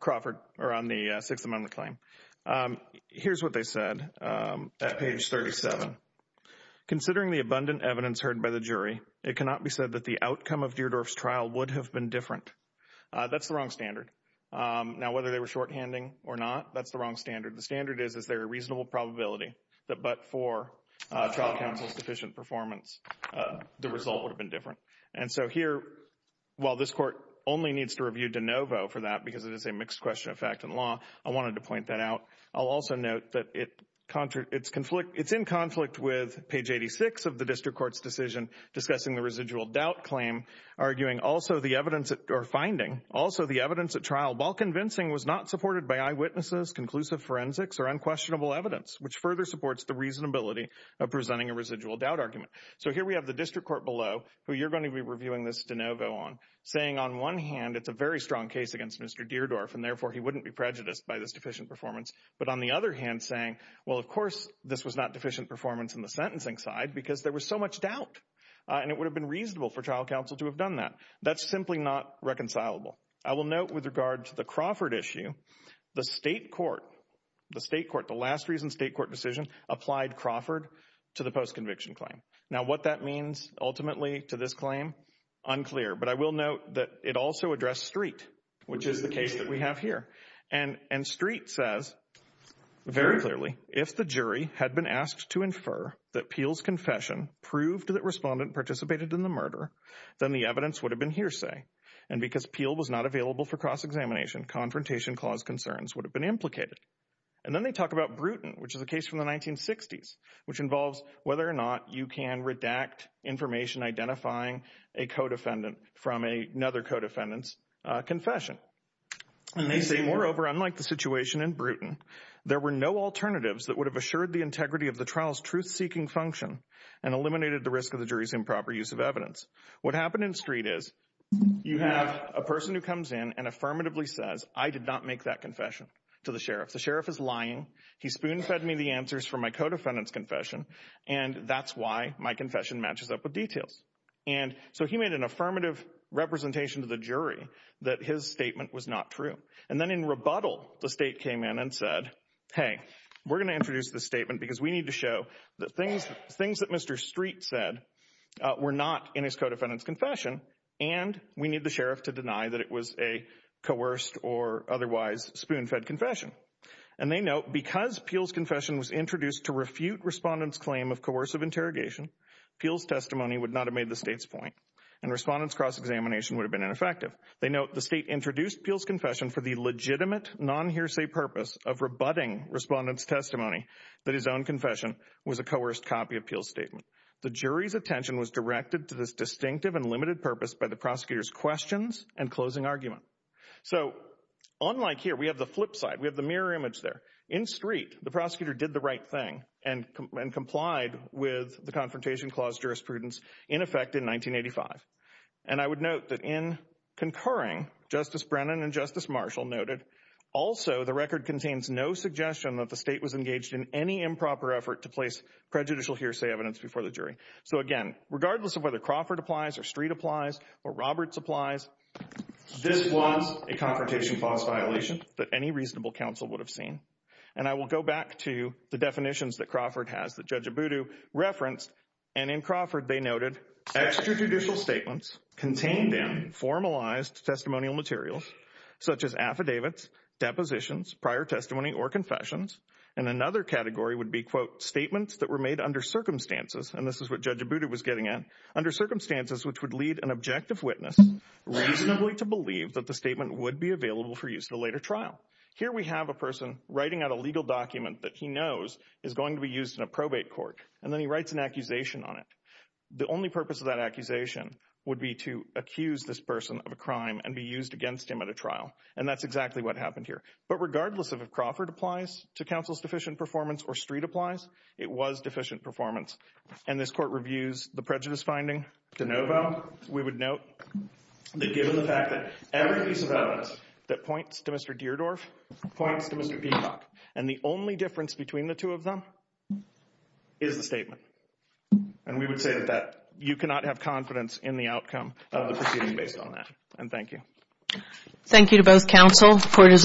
Crawford, or on the Sixth Amendment claim. Here's what they said at page 37. Considering the abundant evidence heard by the jury, it cannot be said that the outcome of Deardorff's trial would have been different. That's the wrong standard. Now, whether they were shorthanding or not, that's the wrong standard. The standard is, is there a reasonable probability that but for trial counsel's deficient performance, the result would have been different. And so here, while this court only needs to review de novo for that because it is a mixed question of fact and law, I wanted to point that out. I'll also note that it's in conflict with page 86 of the district court's decision discussing the residual doubt claim, arguing also the evidence or finding, also the evidence at trial, while convincing, was not supported by eyewitnesses, conclusive forensics, or unquestionable evidence, which further supports the reasonability of presenting a residual doubt argument. So here we have the district court below, who you're going to be reviewing this de novo on, saying on one hand, it's a very strong case against Mr. Deardorff, and therefore he wouldn't be prejudiced by this deficient performance. But on the other hand, saying, well, of course, this was not deficient performance in the sentencing side because there was so much doubt. And it would have been reasonable for trial counsel to have done that. That's simply not reconcilable. I will note with regard to the Crawford issue, the state court, the state court, the last reason state court decision, applied Crawford to the postconviction claim. Now, what that means ultimately to this claim, unclear. But I will note that it also addressed Street, which is the case that we have here. And Street says very clearly, if the jury had been asked to infer that Peel's confession proved that respondent participated in the murder, then the evidence would have been hearsay. And because Peel was not available for cross-examination, confrontation clause concerns would have been implicated. And then they talk about Bruton, which is a case from the 1960s, which involves whether or not you can redact information identifying a co-defendant from another co-defendant's confession. And they say, moreover, unlike the situation in Bruton, there were no alternatives that would have assured the integrity of the trial's truth-seeking function and eliminated the risk of the jury's improper use of evidence. What happened in Street is you have a person who comes in and affirmatively says, I did not make that confession to the sheriff. The sheriff is lying. He spoon-fed me the answers from my co-defendant's confession. And that's why my confession matches up with details. And so he made an affirmative representation to the jury that his statement was not true. And then in rebuttal, the state came in and said, hey, we're going to introduce this statement because we need to show that things that Mr. Street said were not in his co-defendant's confession. And we need the sheriff to deny that it was a coerced or otherwise spoon-fed confession. And they note, because Peele's confession was introduced to refute respondents' claim of coercive interrogation, Peele's testimony would not have made the state's point, and respondents' cross-examination would have been ineffective. They note, the state introduced Peele's confession for the legitimate, non-hearsay purpose of rebutting respondents' testimony that his own confession was a coerced copy of Peele's statement. The jury's attention was directed to this distinctive and limited purpose by the prosecutor's questions and closing argument. So, unlike here, we have the flip side, we have the mirror image there. In Street, the prosecutor did the right thing and complied with the Confrontation Clause jurisprudence in effect in 1985. And I would note that in concurring, Justice Brennan and Justice Marshall noted, also, the record contains no suggestion that the state was engaged in any improper effort to place prejudicial hearsay evidence before the jury. So, again, regardless of whether Crawford applies or Street applies or Roberts applies, this was a Confrontation Clause violation that any reasonable counsel would have seen. And I will go back to the definitions that Crawford has that Judge Abudu referenced. And in Crawford, they noted extrajudicial statements contained in formalized testimonial materials, such as affidavits, depositions, prior testimony, or confessions. And another category would be, quote, statements that were made under circumstances. And this is what Judge Abudu was getting at. Under circumstances which would lead an objective witness reasonably to believe that the statement would be available for use in a later trial. Here we have a person writing out a legal document that he knows is going to be used in a probate court, and then he writes an accusation on it. The only purpose of that accusation would be to accuse this person of a crime and be used against him at a trial. And that's exactly what happened here. But regardless of if Crawford applies to counsel's deficient performance or Street applies, it was deficient performance. And this Court reviews the prejudice finding. De novo, we would note that given the fact that every piece of evidence that points to Mr. Deardorff points to Mr. Peacock, and the only difference between the two of them is the statement. And we would say that you cannot have confidence in the outcome of the proceeding based on that. And thank you. Thank you to both counsel. Court is adjourned. All rise.